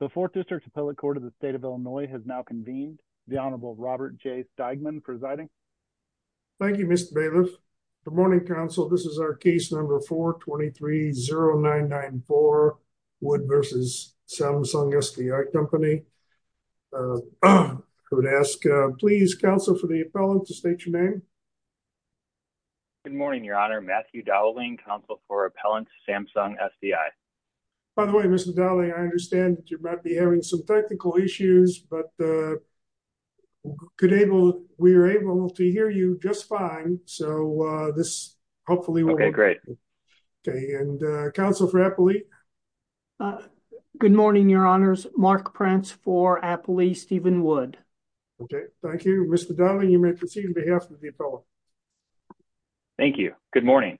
The 4th District Appellate Court of the State of Illinois has now convened. The Honorable Robert J. Steigman presiding. Thank you, Mr. Bailiff. Good morning, counsel. This is our case number 4-230994, Wood v. Samsung SDI Company. I would ask please, counsel, for the appellant to state your name. Good morning, Your Honor. Matthew Dowling, counsel for Appellant Samsung SDI. By the way, Mr. Dowling, I understand that you might be having some technical issues, but we were able to hear you just fine, so this hopefully will work. Okay, great. Okay, and counsel for Appellate? Good morning, Your Honors. Mark Prince for Appellate Steven Wood. Okay, thank you. Mr. Dowling, you may proceed on behalf of the appellant. Thank you. Good morning.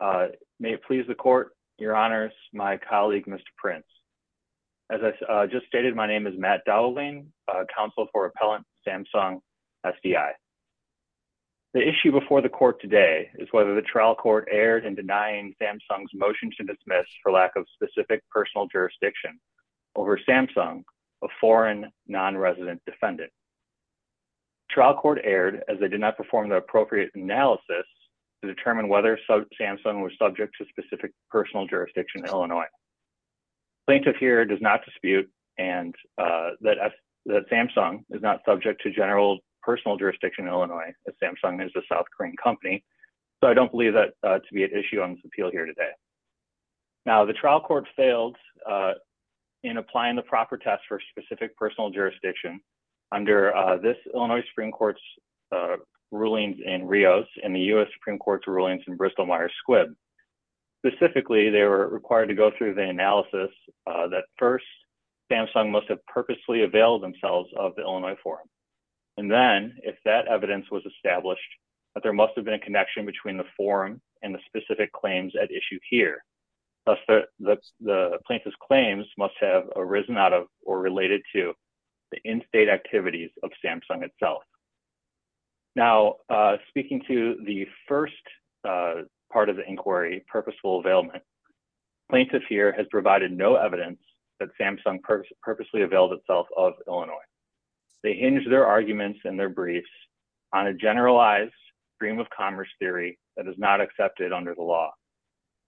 May it please the court, Your Honors, my colleague, Mr. Prince. As I just stated, my name is Matt Dowling, counsel for Appellant Samsung SDI. The issue before the court today is whether the trial court erred in denying Samsung's motion to dismiss for lack of specific personal jurisdiction over Samsung, a foreign non-resident defendant. Trial court erred as they did not perform the appropriate analysis to determine whether Samsung was subject to specific personal jurisdiction in Illinois. Plaintiff here does not dispute that Samsung is not subject to general personal jurisdiction in Illinois, as Samsung is a South Korean company, so I don't believe that to be an issue on this appeal here today. Now, the trial court failed in applying the proper test for specific personal jurisdiction under this Illinois Supreme Court's rulings in Rios and the U.S. Supreme Court's rulings in Bristol-Myers Squibb. Specifically, they were required to go through the analysis that, first, Samsung must have purposely availed themselves of the Illinois forum, and then, if that evidence was established, that there must have been a connection between the forum and the specific claims at issue here, thus the plaintiff's claims must have arisen out of or related to the in-state activities of Samsung itself. Now, speaking to the first part of the inquiry, purposeful availment, plaintiff here has provided no evidence that Samsung purposely availed itself of Illinois. They hinge their arguments and their briefs on a generalized stream of commerce theory that is not accepted under the law.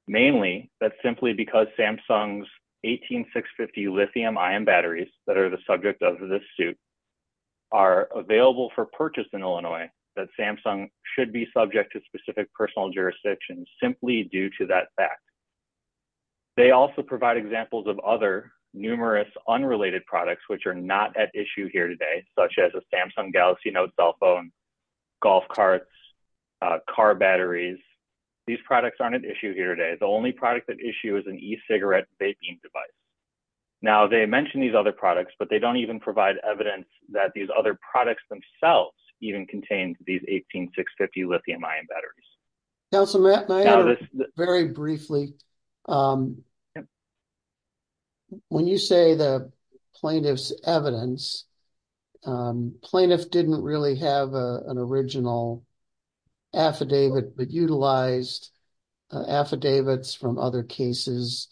Mainly, that's simply because Samsung's 18650 lithium-ion batteries that are the subject of this suit are available for purchase in Illinois that Samsung should be subject to specific personal jurisdictions simply due to that fact. They also provide examples of other numerous unrelated products which are not at issue here today, such as a Samsung Galaxy Note cell phone, golf carts, car batteries. These products aren't at issue here today. The only product at issue is an e-cigarette vaping device. Now, they mention these other products, but they don't even provide evidence that these other products themselves even contain these 18650 lithium-ion batteries. Councilman, very briefly, when you say the plaintiff's evidence, plaintiff didn't really have an original affidavit, but utilized affidavits from other cases,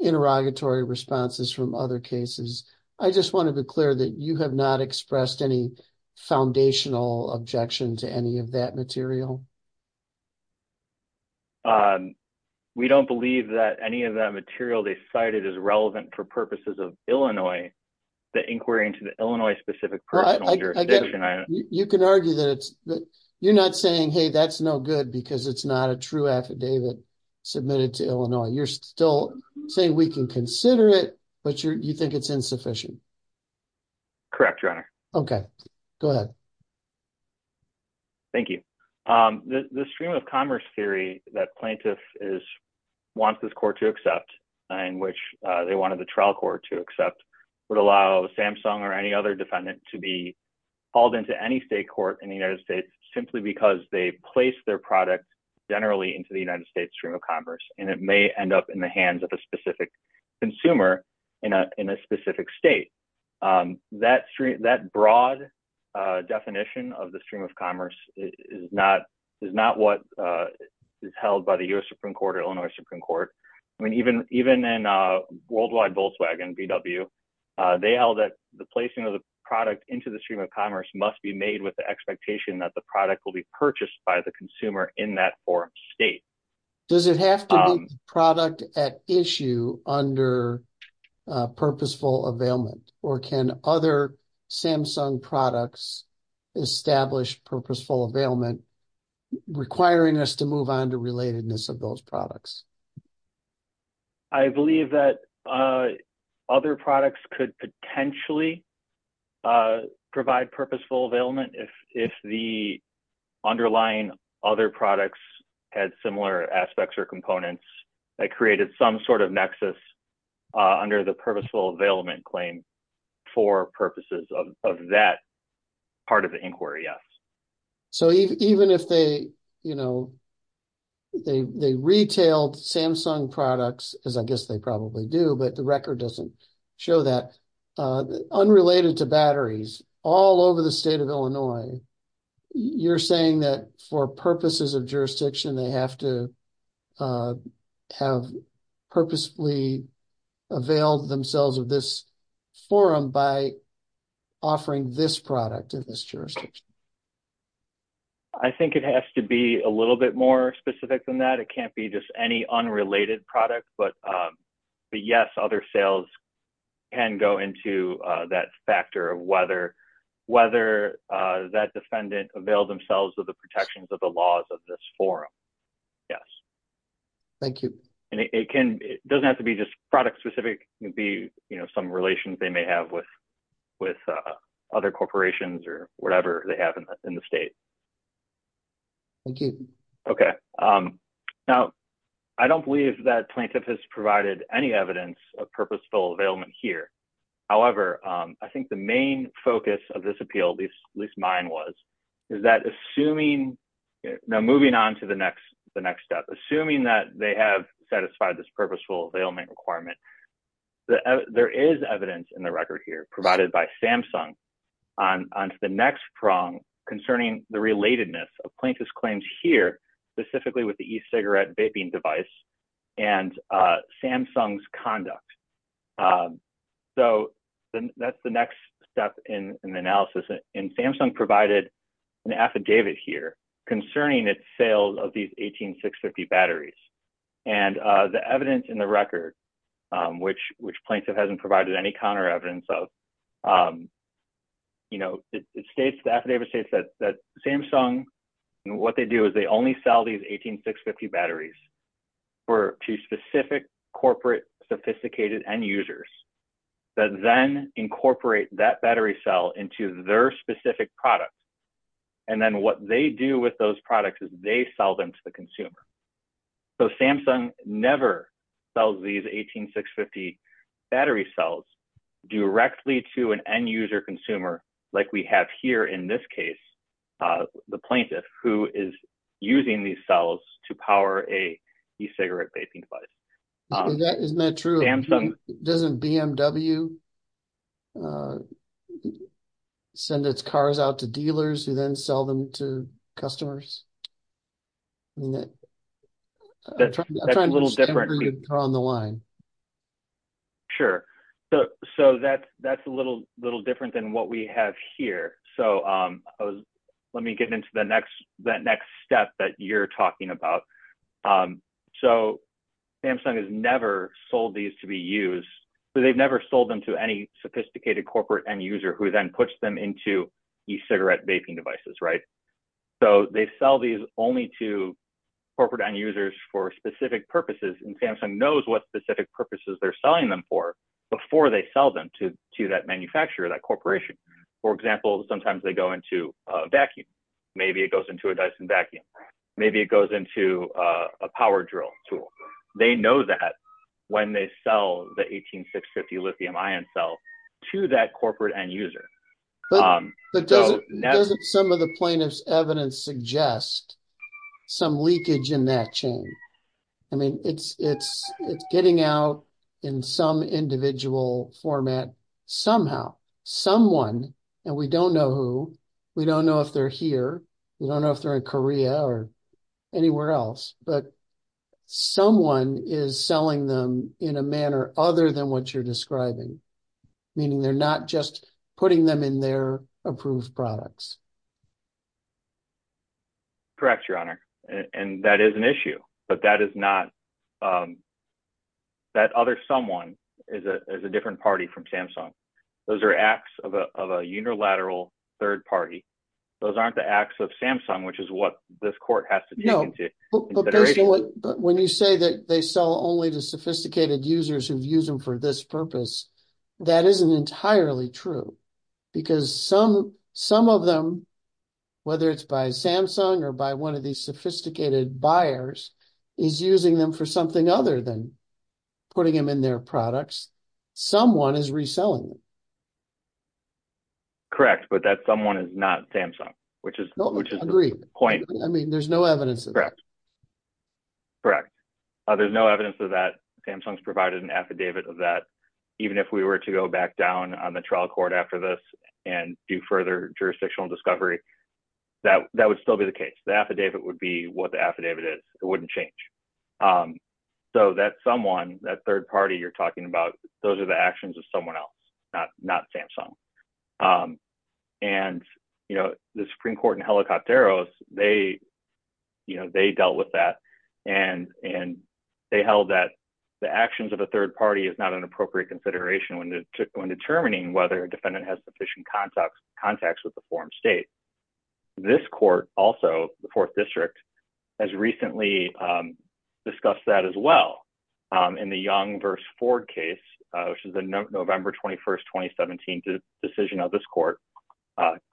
interrogatory responses from other cases. I just want to be clear that you have not expressed any foundational objection to any of that material? We don't believe that any of that material they cited is relevant for purposes of Illinois, the inquiry into the Illinois specific personal jurisdiction. You can argue that you're not saying, hey, that's no good because it's not a true affidavit submitted to Illinois. You're still saying we can consider it, but you think it's insufficient. Correct, Your Honor. Okay, go ahead. Thank you. The stream of commerce theory that plaintiff wants this court to accept and which they any state court in the United States simply because they place their product generally into the United States stream of commerce, and it may end up in the hands of a specific consumer in a specific state. That broad definition of the stream of commerce is not what is held by the US Supreme Court or Illinois Supreme Court. Even in worldwide Volkswagen, VW, they held that the placing of the product into the stream of commerce must be made with the expectation that the product will be purchased by the consumer in that form state. Does it have to be product at issue under purposeful availment or can other Samsung products establish purposeful availment requiring us to move on to relatedness of those products? I believe that other products could potentially provide purposeful availment if the underlying other products had similar aspects or components that created some sort of nexus under the purposeful availment claim for purposes of that part of the inquiry. Yes. Even if they retailed Samsung products, as I guess they probably do, but the record doesn't show that, unrelated to batteries, all over the state of Illinois, you're saying that for purposes of jurisdiction, they have to have purposefully availed themselves of this forum by offering this product in this jurisdiction. I think it has to be a little bit more specific than that. It can't be just any unrelated product, but yes, other sales can go into that factor of whether that defendant availed themselves of the protections of the laws of this forum. Yes. Thank you. And it doesn't have to be just product specific. It can be some relations they may have with other corporations or whatever they have in the state. Thank you. Okay. Now, I don't believe that plaintiff has provided any evidence of purposeful availment here. However, I think the main focus of this appeal, at least mine was, is that assuming, now moving on to the next step, assuming that they have satisfied this purposeful availment requirement, there is evidence in the record here provided by Samsung on the next prong concerning the relatedness of plaintiff's claims here, specifically with the e-cigarette vaping device and Samsung's conduct. So that's the next step in the analysis. And Samsung provided an affidavit here concerning its sale of these 18650 batteries. And the evidence in the record, which plaintiff hasn't provided any counter evidence of, you know, it states, the affidavit states that Samsung, what they do is they only sell these 18650 batteries to specific corporate sophisticated end users that then incorporate that battery cell into their specific product. And then what they do with those products is they sell them to the consumer. So Samsung never sells these 18650 battery cells directly to an end user consumer, like we have here in this case, the plaintiff who is using these cells to power a e-cigarette vaping device. Isn't that true? Doesn't BMW send its cars out to dealers who then sell them to customers? I mean, I'm trying to understand where you're on the line. Sure. So that's a little different than what we have here. So let me get into that next step that you're talking about. So Samsung has never sold these to be used. So they've never sold them to any sophisticated corporate end user who then puts them into e-cigarette vaping devices, right? So they sell these only to corporate end users for specific purposes. And Samsung knows what specific purposes they're selling them for before they sell them to that manufacturer, that corporation. For example, sometimes they go into a vacuum. Maybe it goes into a Dyson vacuum. Maybe it goes into a power drill tool. They know that when they sell the 18650 lithium ion cell to that corporate end user. But doesn't some of the plaintiff's evidence suggest some leakage in that chain? I mean, it's getting out in some individual format somehow. Someone, and we don't know who, we don't know if they're here. We don't know if they're in Korea or anywhere else. But someone is selling them in a manner other than what you're describing. Meaning they're not just putting them in their approved products. Correct, Your Honor. And that is an issue. But that is not that other someone is a different party from Samsung. Those are acts of a unilateral third party. Those aren't the acts of Samsung, which is what this court has to take into consideration. But when you say that they sell only to sophisticated users who've used them for this purpose, that isn't entirely true. Because some of them, whether it's by Samsung or by one of these sophisticated buyers, is using them for something other than putting them in their products. Someone is reselling them. Correct. But that someone is not Samsung, which is the point. I mean, there's no evidence of that. Correct. There's no evidence of that. Samsung's provided an affidavit of that. Even if we were to go back down on the trial court after this and do further jurisdictional discovery, that would still be the case. The affidavit would be what the affidavit is. It wouldn't change. So that someone, that third party you're talking about, those are the actions of someone else, not Samsung. And, you know, the Supreme Court in Helicopteros, they, you know, they dealt with that. And they held that the actions of a third party is not an appropriate consideration when determining whether a defendant has sufficient contacts with the foreign state. This court also, the Fourth District, has recently discussed that as well. In the Young v. Ford case, which is the November 21st, 2017 decision of this court,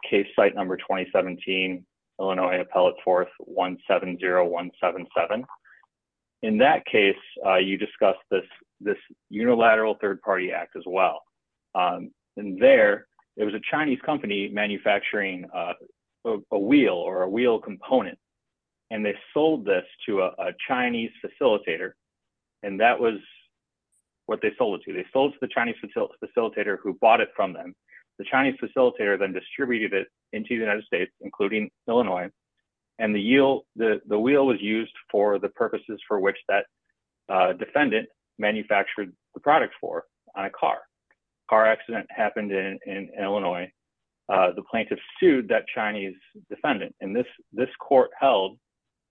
case site number 2017, Illinois Appellate Fourth, 170177. In that case, you discussed this unilateral third party act as well. And there, it was a Chinese company manufacturing a wheel or a wheel component. And they sold this to a Chinese facilitator. And that was what they sold it to. They sold to the Chinese facilitator who bought it from them. The Chinese facilitator then distributed it into the United States, including Illinois. And the wheel was used for the purposes for which that defendant manufactured the product for, on a car. Car accident happened in Illinois. The plaintiff sued that Chinese defendant. And this court held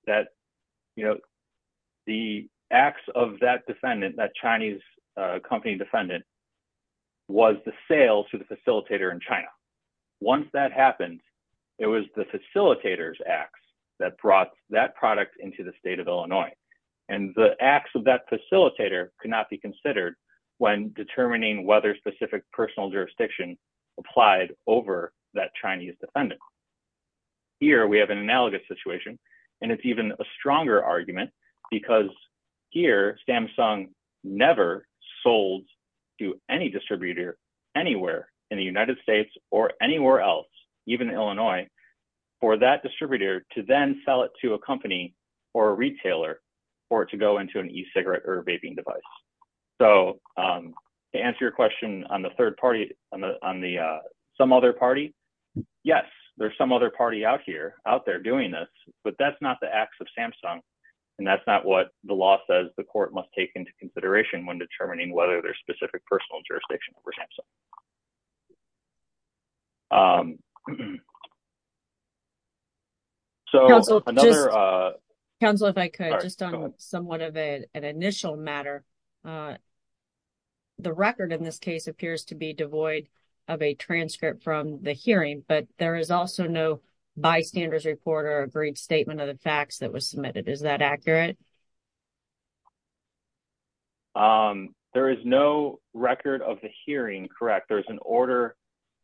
that the acts of that defendant, that Chinese company defendant, was the sale to the facilitator in China. Once that happened, it was the facilitator's acts that brought that product into the state of Illinois. And the acts of that facilitator could not be considered when determining whether specific personal jurisdiction applied over that Chinese defendant. Here, we have an analogous situation. And it's even a stronger argument because here, Samsung never sold to any distributor anywhere in the United States or anywhere else, even Illinois, for that distributor to then sell it to a company or a retailer for it to go into an e-cigarette or a vaping device. So to answer your question on the third party, on the some other party, yes. There's some other party out here, out there doing this. But that's not the acts of Samsung. And that's not what the law says the court must take into consideration when determining whether there's specific personal jurisdiction over Samsung. So, another. Counselor, if I could, just on somewhat of an initial matter. The record in this case appears to be devoid of a transcript from the hearing. But there is also no bystander's report or a brief statement of the facts that was submitted. Is that accurate? There is no record of the hearing. Correct. There's an order.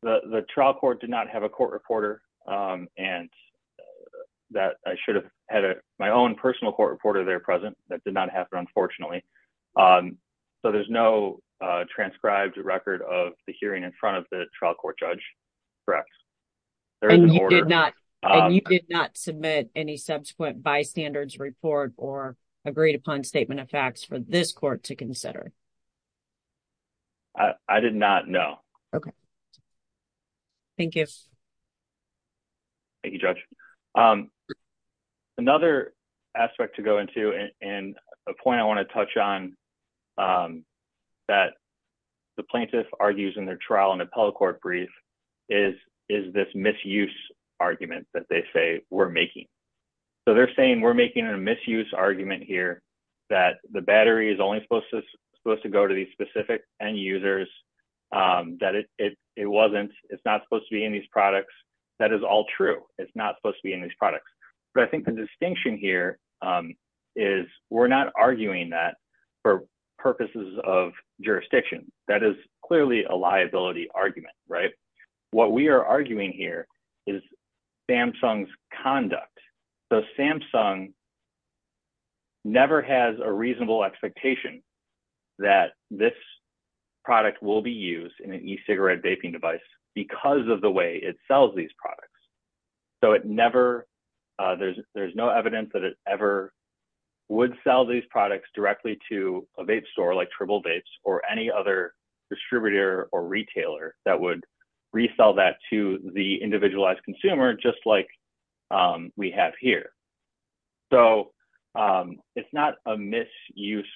The trial court did not have a court reporter. And that I should have had my own personal court reporter there present. That did not happen, unfortunately. So there's no transcribed record of the hearing in front of the trial court judge. Correct. You did not submit any subsequent bystander's report or agreed upon statement of facts for this court to consider. I did not know. Thank you. Thank you, Judge. Another aspect to go into and a point I want to touch on that the plaintiff argues in their appellate court brief is this misuse argument that they say we're making. So they're saying we're making a misuse argument here that the battery is only supposed to go to these specific end users. That it wasn't. It's not supposed to be in these products. That is all true. It's not supposed to be in these products. But I think the distinction here is we're not arguing that for purposes of jurisdiction. That is clearly a liability argument, right? What we are arguing here is Samsung's conduct. So Samsung never has a reasonable expectation that this product will be used in an e-cigarette vaping device because of the way it sells these products. So it never, there's no evidence that it ever would sell these products directly to a vape distributor or retailer that would resell that to the individualized consumer, just like we have here. So it's not a misuse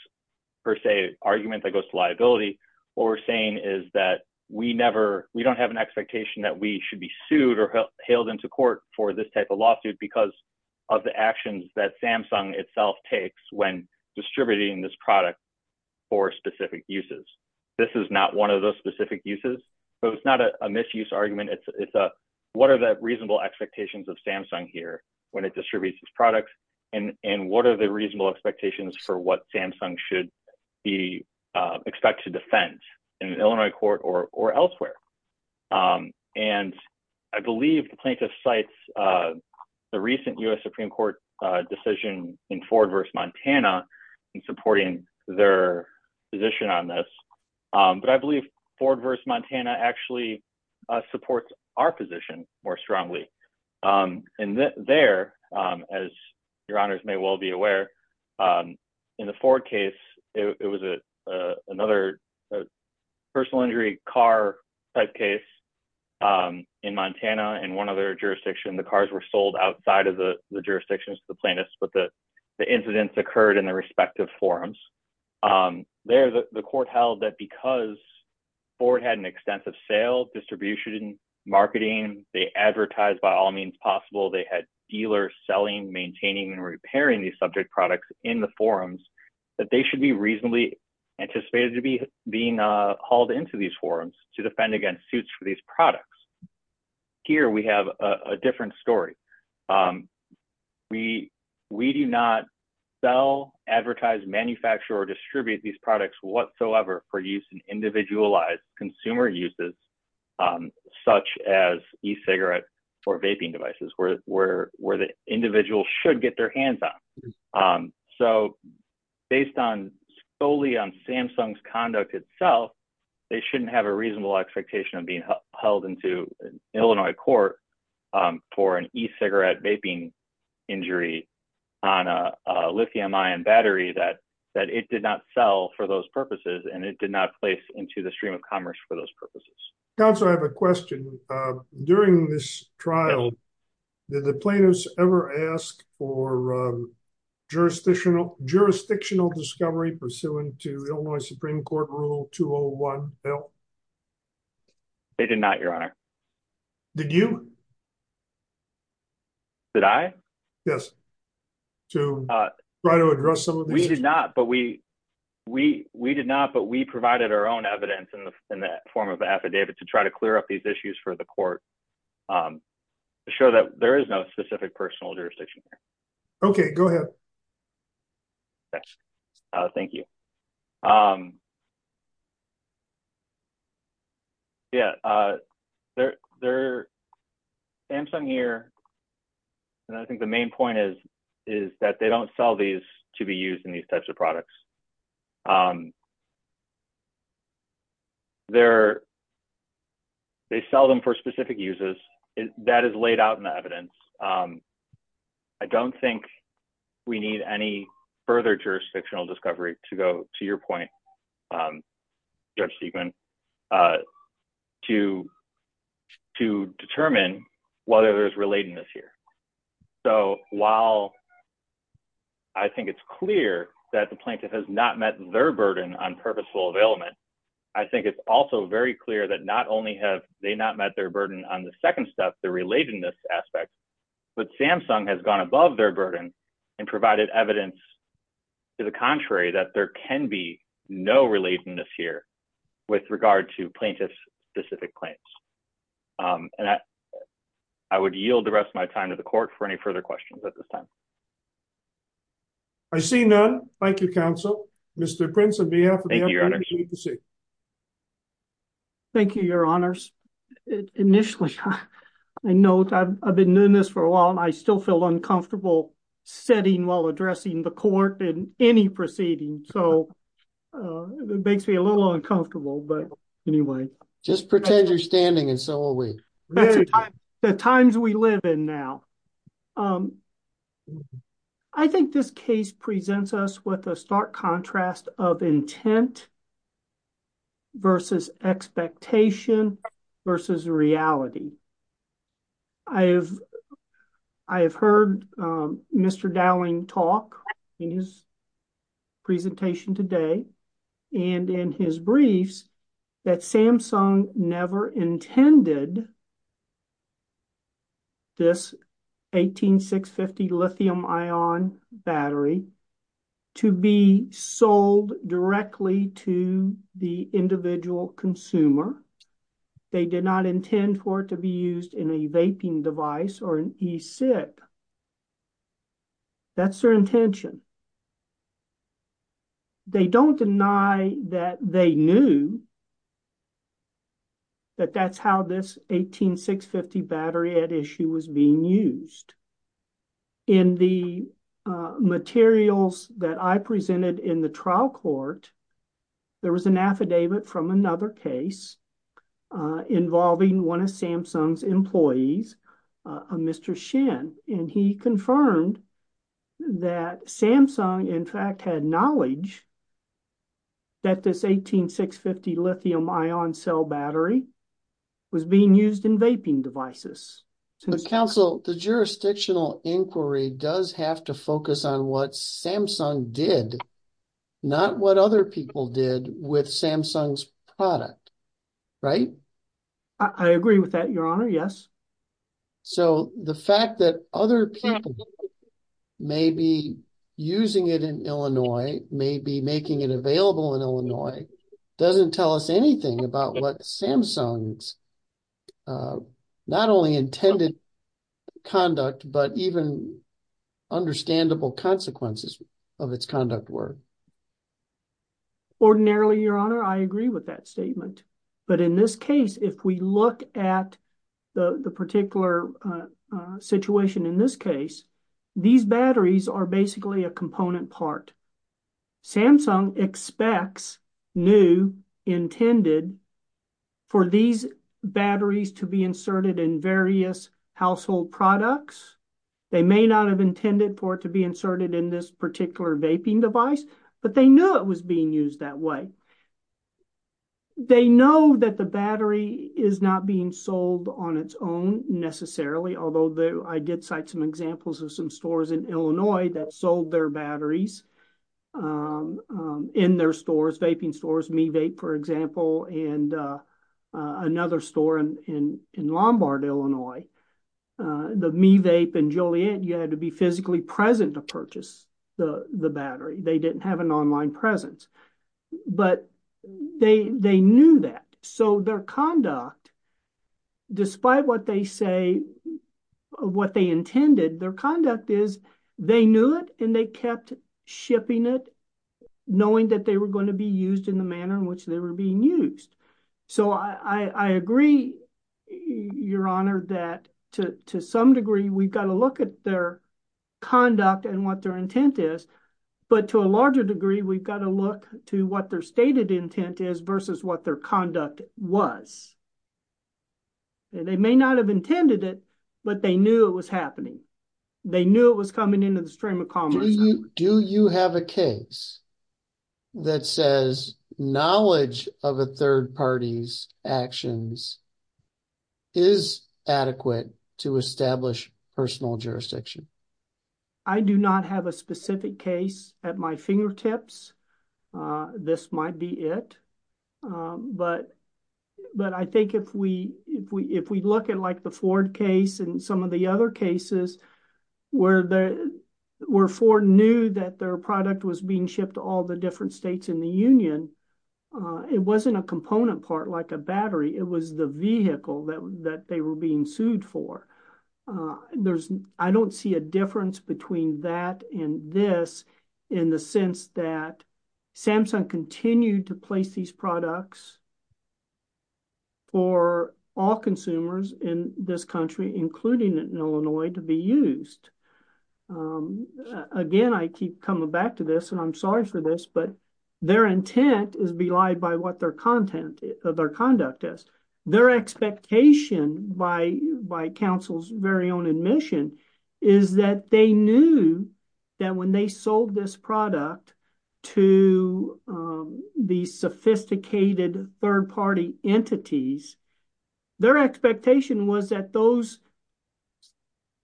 per se argument that goes to liability. What we're saying is that we never, we don't have an expectation that we should be sued or hailed into court for this type of lawsuit because of the actions that Samsung itself takes when distributing this product for specific uses. This is not one of those specific uses. So it's not a misuse argument. It's a, what are the reasonable expectations of Samsung here when it distributes these products? And what are the reasonable expectations for what Samsung should be expected to defend in Illinois court or elsewhere? And I believe the plaintiff cites the recent U.S. Supreme Court decision in Ford v. Montana in supporting their position on this. But I believe Ford v. Montana actually supports our position more strongly. And there, as your honors may well be aware, in the Ford case, it was another personal injury car type case in Montana in one other jurisdiction. The cars were sold outside of the jurisdictions to the plaintiffs, but the incidents occurred in their respective forums. There, the court held that because Ford had an extensive sale, distribution, marketing, they advertised by all means possible, they had dealers selling, maintaining, and repairing these subject products in the forums, that they should be reasonably anticipated to be being hauled into these forums to defend against suits for these products. Here, we have a different story. We do not sell, advertise, manufacture, or distribute these products whatsoever for use in individualized consumer uses, such as e-cigarette or vaping devices, where the individual should get their hands on. So based solely on Samsung's conduct itself, they shouldn't have a reasonable expectation of being held into Illinois court for an e-cigarette vaping injury on a lithium-ion battery that it did not sell for those purposes, and it did not place into the stream of commerce for those purposes. Counsel, I have a question. During this trial, did the plaintiffs ever ask for jurisdictional discovery pursuant to Illinois Supreme Court Rule 201, Bill? They did not, Your Honor. Did you? Did I? Yes. To try to address some of these issues? We did not, but we provided our own evidence in that form of affidavit to try to clear up these issues for the court to show that there is no specific personal jurisdiction here. Okay, go ahead. Thank you. Yeah, there – Samsung here – and I think the main point is that they don't sell these to be used in these types of products. They're – they sell them for specific uses. I don't think we need any further jurisdictional discovery to go to your point, Judge Siegmund, to determine whether there's relatedness here. So, while I think it's clear that the plaintiff has not met their burden on purposeful availment, I think it's also very clear that not only have they not met their burden on the second step, the relatedness aspect, but Samsung has gone above their burden and provided evidence to the contrary, that there can be no relatedness here with regard to plaintiff's specific claims. And I would yield the rest of my time to the court for any further questions at this time. I see none. Thank you, counsel. Mr. Prince, on behalf of the FBI, it's good to see you. Thank you, Your Honors. Initially, I know I've been doing this for a while, and I still feel uncomfortable sitting while addressing the court in any proceeding. So, it makes me a little uncomfortable, but anyway. Just pretend you're standing, and so are we. The times we live in now. I think this case presents us with a stark contrast of intent versus expectation. Versus reality. I have heard Mr. Dowling talk in his presentation today, and in his briefs, that Samsung never intended this 18650 lithium-ion battery to be sold directly to the individual consumer. They did not intend for it to be used in a vaping device or an e-cig. That's their intention. They don't deny that they knew that that's how this 18650 battery at issue was being used. In the materials that I presented in the trial court, there was an affidavit from another case involving one of Samsung's employees, a Mr. Shin. And he confirmed that Samsung, in fact, had knowledge that this 18650 lithium-ion cell battery was being used in vaping devices. Counsel, the jurisdictional inquiry does have to focus on what Samsung did, not what other did, with Samsung's product, right? I agree with that, Your Honor, yes. So the fact that other people may be using it in Illinois, may be making it available in Illinois, doesn't tell us anything about what Samsung's not only intended conduct, but even understandable consequences of its conduct were. Ordinarily, Your Honor, I agree with that statement. But in this case, if we look at the particular situation in this case, these batteries are basically a component part. Samsung expects, knew, intended for these batteries to be inserted in various household products. They may not have intended for it to be inserted in this particular vaping device, but they knew it was being used that way. They know that the battery is not being sold on its own, necessarily, although I did cite some examples of some stores in Illinois that sold their batteries in their stores, vaping stores, MeVape, for example, and another store in Lombard, Illinois. The MeVape and Joliet, you had to be physically present to purchase the battery. They didn't have an online presence, but they knew that. So their conduct, despite what they say, what they intended, their conduct is they knew it and they kept shipping it, knowing that they were going to be used in the manner in which they were being used. So I agree, Your Honor, that to some degree, we've got to look at their conduct and what their intent is. But to a larger degree, we've got to look to what their stated intent is versus what their conduct was. They may not have intended it, but they knew it was happening. They knew it was coming into the stream of commerce. Do you have a case that says knowledge of a third party's actions is adequate to establish personal jurisdiction? I do not have a specific case at my fingertips. This might be it, but I think if we look at like the Ford case and some of the other cases where Ford knew that their product was being shipped to all the different states in the union, it wasn't a component part like a battery. It was the vehicle that they were being sued for. There's, I don't see a difference between that and this in the sense that Samsung continued to place these products for all consumers in this country, including in Illinois, to be used. Again, I keep coming back to this and I'm sorry for this, but their intent is belied by what their content, their conduct is. Their expectation by counsel's very own admission is that they knew that when they sold this product to the sophisticated third party entities, their expectation was that those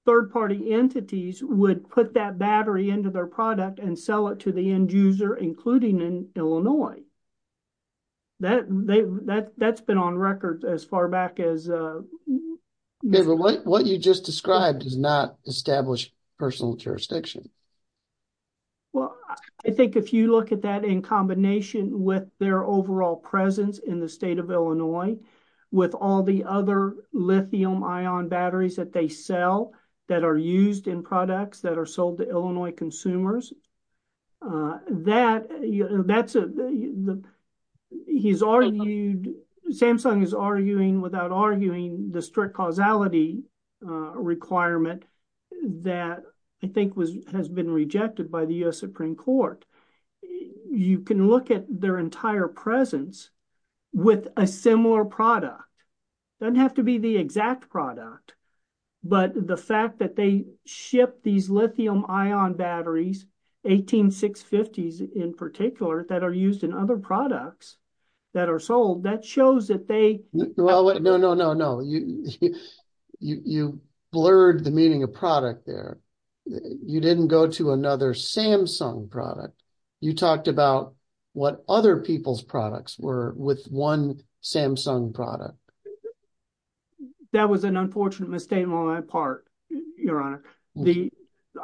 third party entities would put that battery into their product and sell it to That's been on record as far back as... David, what you just described does not establish personal jurisdiction. Well, I think if you look at that in combination with their overall presence in the state of Illinois, with all the other lithium ion batteries that they sell that are used in products that are sold to Illinois consumers, that's... Samsung is arguing without arguing the strict causality requirement that I think has been rejected by the US Supreme Court. You can look at their entire presence with a similar product. Doesn't have to be the exact product, but the fact that they ship these lithium ion batteries, 18650s in particular, that are used in other products that are sold, that shows that they... Well, no, no, no, no. You blurred the meaning of product there. You didn't go to another Samsung product. You talked about what other people's products were with one Samsung product. Well, that was an unfortunate misstatement on my part, Your Honor.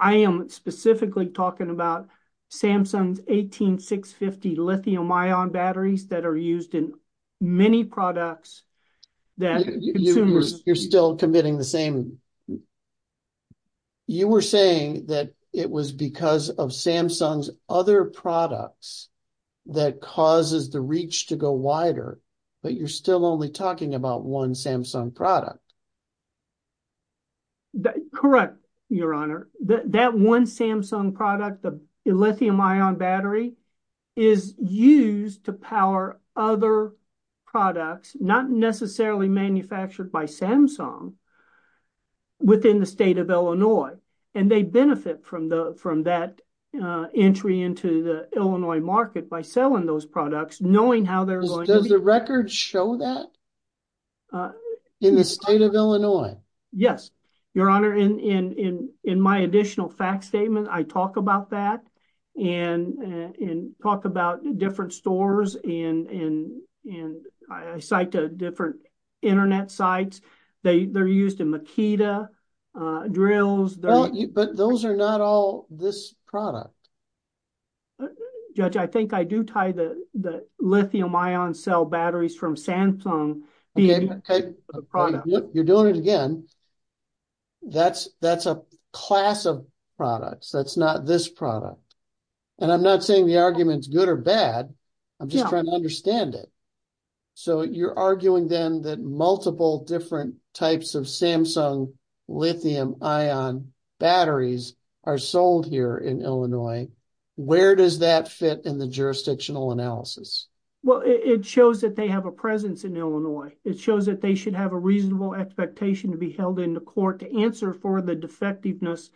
I am specifically talking about Samsung's 18650 lithium ion batteries that are used in many products that consumers... You're still committing the same... You were saying that it was because of Samsung's other products that causes the reach to go one Samsung product. Correct, Your Honor. That one Samsung product, the lithium ion battery, is used to power other products, not necessarily manufactured by Samsung, within the state of Illinois. And they benefit from that entry into the Illinois market by selling those products knowing how they're going to be... Does the record show that in the state of Illinois? Yes, Your Honor. And in my additional fact statement, I talk about that and talk about different stores and I cite different internet sites. They're used in Makita drills. But those are not all this product. Judge, I think I do tie the lithium ion cell batteries from Samsung... You're doing it again. That's a class of products. That's not this product. And I'm not saying the argument is good or bad. I'm just trying to understand it. So you're arguing then that multiple different types of Samsung lithium ion batteries are where does that fit in the jurisdictional analysis? Well, it shows that they have a presence in Illinois. It shows that they should have a reasonable expectation to be held in the court to answer for the defectiveness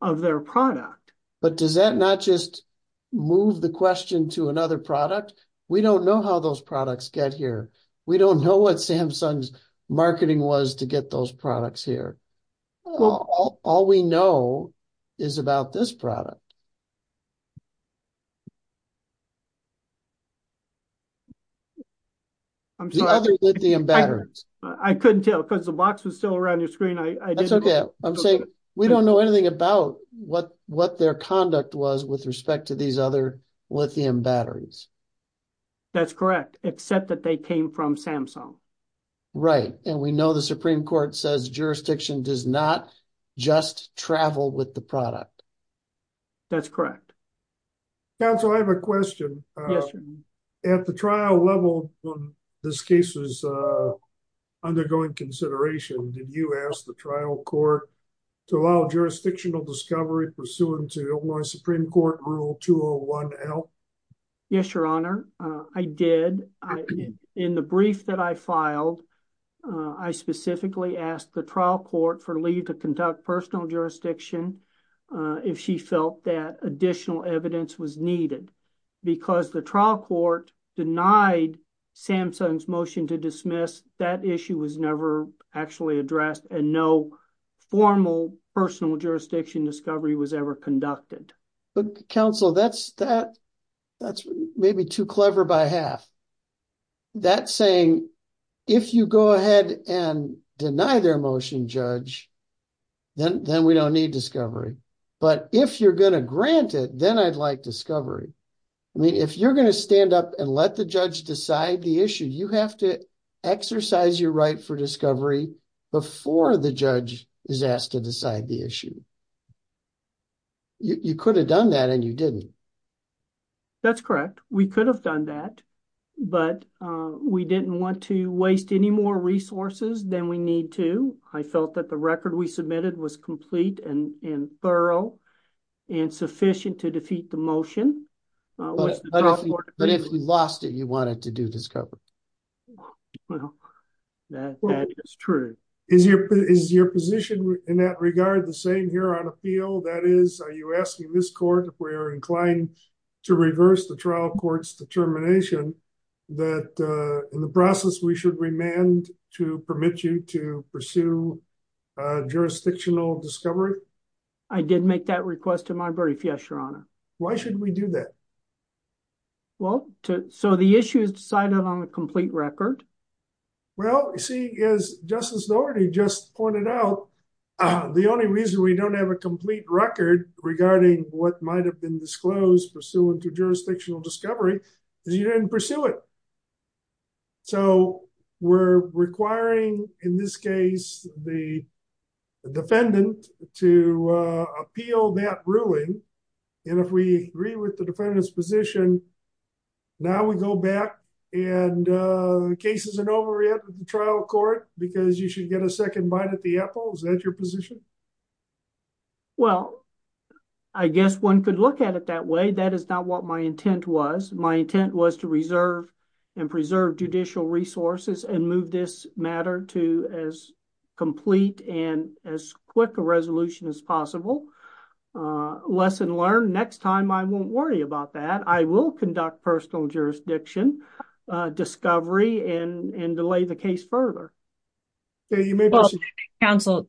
of their product. But does that not just move the question to another product? We don't know how those products get here. We don't know what Samsung's marketing was to get those products here. All we know is about this product. The other lithium batteries. I couldn't tell because the box was still around your screen. I'm saying we don't know anything about what their conduct was with respect to these other lithium batteries. That's correct, except that they came from Samsung. Right. And we know the Supreme Court says jurisdiction does not just travel with the product. That's correct. Counsel, I have a question. At the trial level, this case is undergoing consideration. Did you ask the trial court to allow jurisdictional discovery pursuant to Illinois Supreme Court Rule 201 to help? Yes, Your Honor, I did. In the brief that I filed, I specifically asked the trial court for leave to conduct personal jurisdiction if she felt that additional evidence was needed. Because the trial court denied Samsung's motion to dismiss, that issue was never actually addressed and no formal personal jurisdiction discovery was ever conducted. Counsel, that's maybe too clever by half. That's saying if you go ahead and deny their motion, Judge, then we don't need discovery. But if you're going to grant it, then I'd like discovery. I mean, if you're going to stand up and let the judge decide the issue, you have to exercise your right for discovery before the judge is asked to decide the issue. You could have done that and you didn't. That's correct. We could have done that, but we didn't want to waste any more resources than we need to. I felt that the record we submitted was complete and thorough and sufficient to defeat the motion. But if you lost it, you wanted to do discovery. Well, that is true. Is your position in that regard the same here on appeal? That is, are you asking this court, if we are inclined to reverse the trial court's determination, that in the process we should remand to permit you to pursue jurisdictional discovery? I did make that request to my brief, yes, Your Honor. Why should we do that? Well, so the issue is decided on a complete record. Well, see, as Justice Dougherty just pointed out, the only reason we don't have a complete record regarding what might have been disclosed pursuant to jurisdictional discovery is you didn't pursue it. So we're requiring, in this case, the defendant to appeal that ruling, and if we agree with the defendant's position, now we go back and the case isn't over yet with the trial court because you should get a second bite at the apple. Is that your position? Well, I guess one could look at it that way. That is not what my intent was. My intent was to reserve and preserve judicial resources and move this matter to as complete and as quick a resolution as possible. Lesson learned. Next time, I won't worry about that. I will conduct personal jurisdiction discovery and delay the case further. So you may be able to counsel.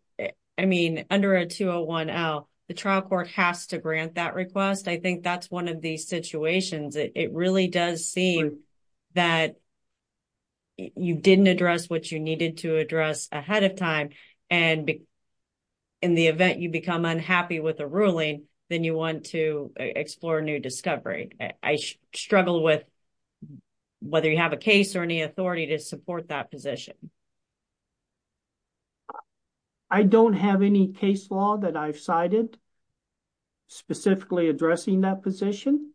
I mean, under a 201L, the trial court has to grant that request. I think that's one of these situations. It really does seem that you didn't address what you needed to address ahead of time, and in the event you become unhappy with a ruling, then you want to explore new discovery. I struggle with whether you have a case or any authority to support that position. I don't have any case law that I've cited specifically addressing that position.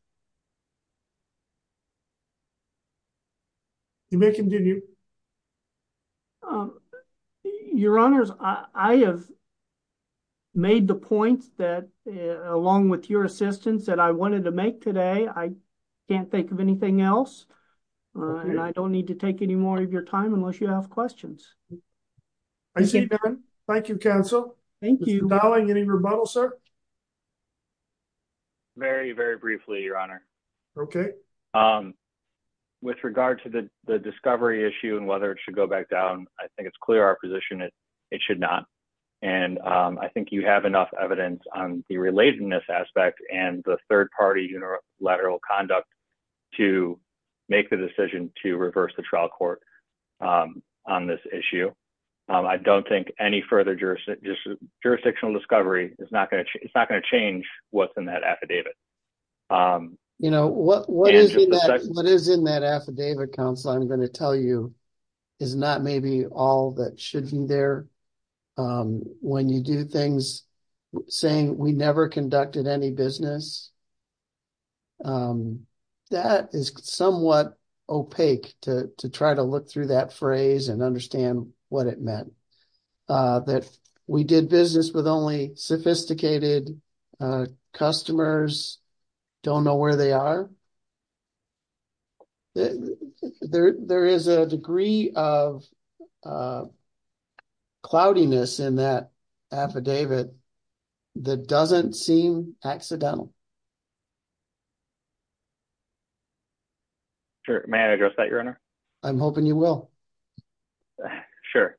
You may continue. Your Honors, I have made the point that along with your assistance that I wanted to make today, I can't think of anything else and I don't need to take any more of your time unless you have questions. I see none. Thank you, counsel. Thank you. Mr. Dowling, any rebuttal, sir? Very, very briefly, Your Honor. Okay. With regard to the discovery issue and whether it should go back down, I think it's clear our position is it should not, and I think you have enough evidence on the relatedness aspect and the third-party unilateral conduct to make the decision to reverse the trial court. On this issue, I don't think any further jurisdictional discovery is not going to change what's in that affidavit. You know, what is in that affidavit, counsel, I'm going to tell you is not maybe all that should be there. When you do things saying we never conducted any business, that is somewhat opaque to try to look through that phrase and understand what it meant. That we did business with only sophisticated customers, don't know where they are. There is a degree of cloudiness in that affidavit that doesn't seem accidental. Sure. May I address that, Your Honor? I'm hoping you will. Sure.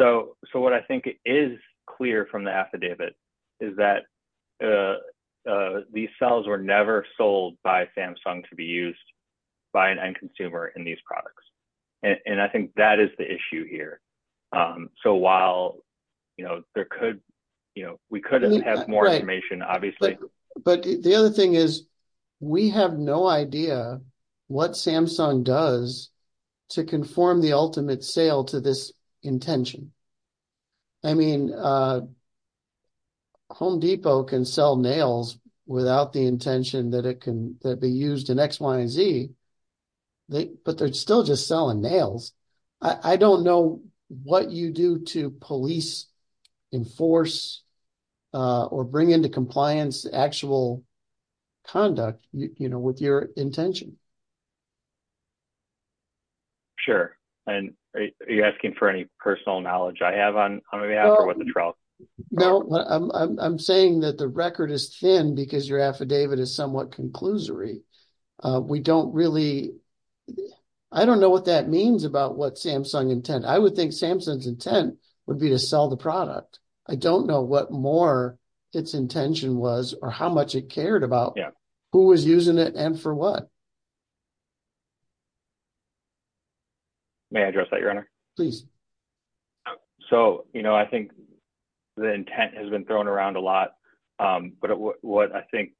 So what I think is clear from the affidavit is that these cells were never sold by Samsung to be used by an end consumer in these products. And I think that is the issue here. So while, you know, there could, you know, we could have more information, obviously. But the other thing is, we have no idea what Samsung does to conform the ultimate sale to this intention. I mean, Home Depot can sell nails without the intention that it can be used in X, Y, and Z, but they're still just selling nails. I don't know what you do to police, enforce, or bring into compliance actual conduct, you know, with your intention. Sure. And are you asking for any personal knowledge I have on behalf of what the trial? No, I'm saying that the record is thin because your affidavit is somewhat conclusory. We don't really, I don't know what that means about what Samsung intent. I would think Samsung's intent would be to sell the product. I don't know what more its intention was or how much it cared about who was using it and for what. May I address that, Your Honor? Please. So, you know, I think the intent has been thrown around a lot. But what I think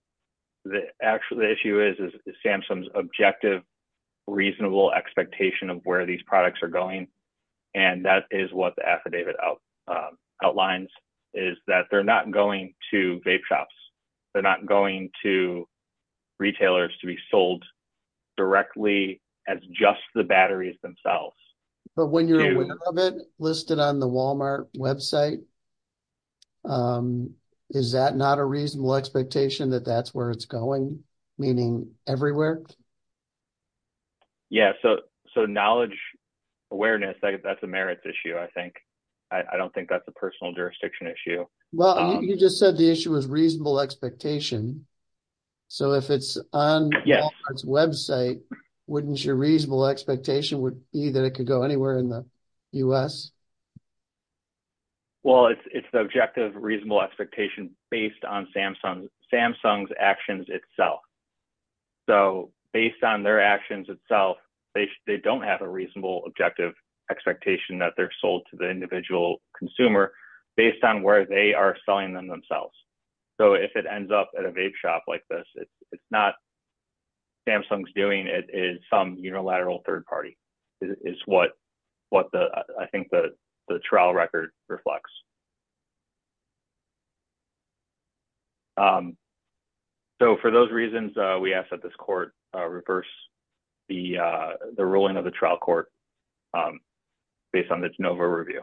actually the issue is, is Samsung's objective, reasonable expectation of where these products are going. And that is what the affidavit outlines, is that they're not going to vape shops. They're not going to retailers to be sold directly as just the batteries themselves. But when you're aware of it listed on the Walmart website, is that not a reasonable expectation that that's where it's going? Meaning everywhere? Yeah, so knowledge, awareness, that's a merits issue, I think. I don't think that's a personal jurisdiction issue. Well, you just said the issue was reasonable expectation. So if it's on Walmart's website, wouldn't your reasonable expectation would be that it could go anywhere in the U.S.? Well, it's the objective, reasonable expectation based on Samsung's actions itself. So based on their actions itself, they don't have a reasonable, objective expectation that they're sold to the individual consumer based on where they are selling them themselves. So if it ends up at a vape shop like this, it's not Samsung's doing. It is some unilateral third party. It's what I think the trial record reflects. So for those reasons, we ask that this court reverse the ruling of the trial court based on the de novo review.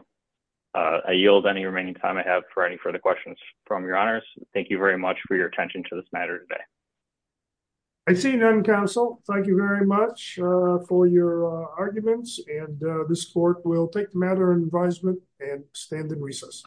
I yield any remaining time I have for any further questions from your honors. Thank you very much for your attention to this matter today. I see none, counsel. Thank you very much for your arguments. And this court will take the matter in advisement and stand in recess.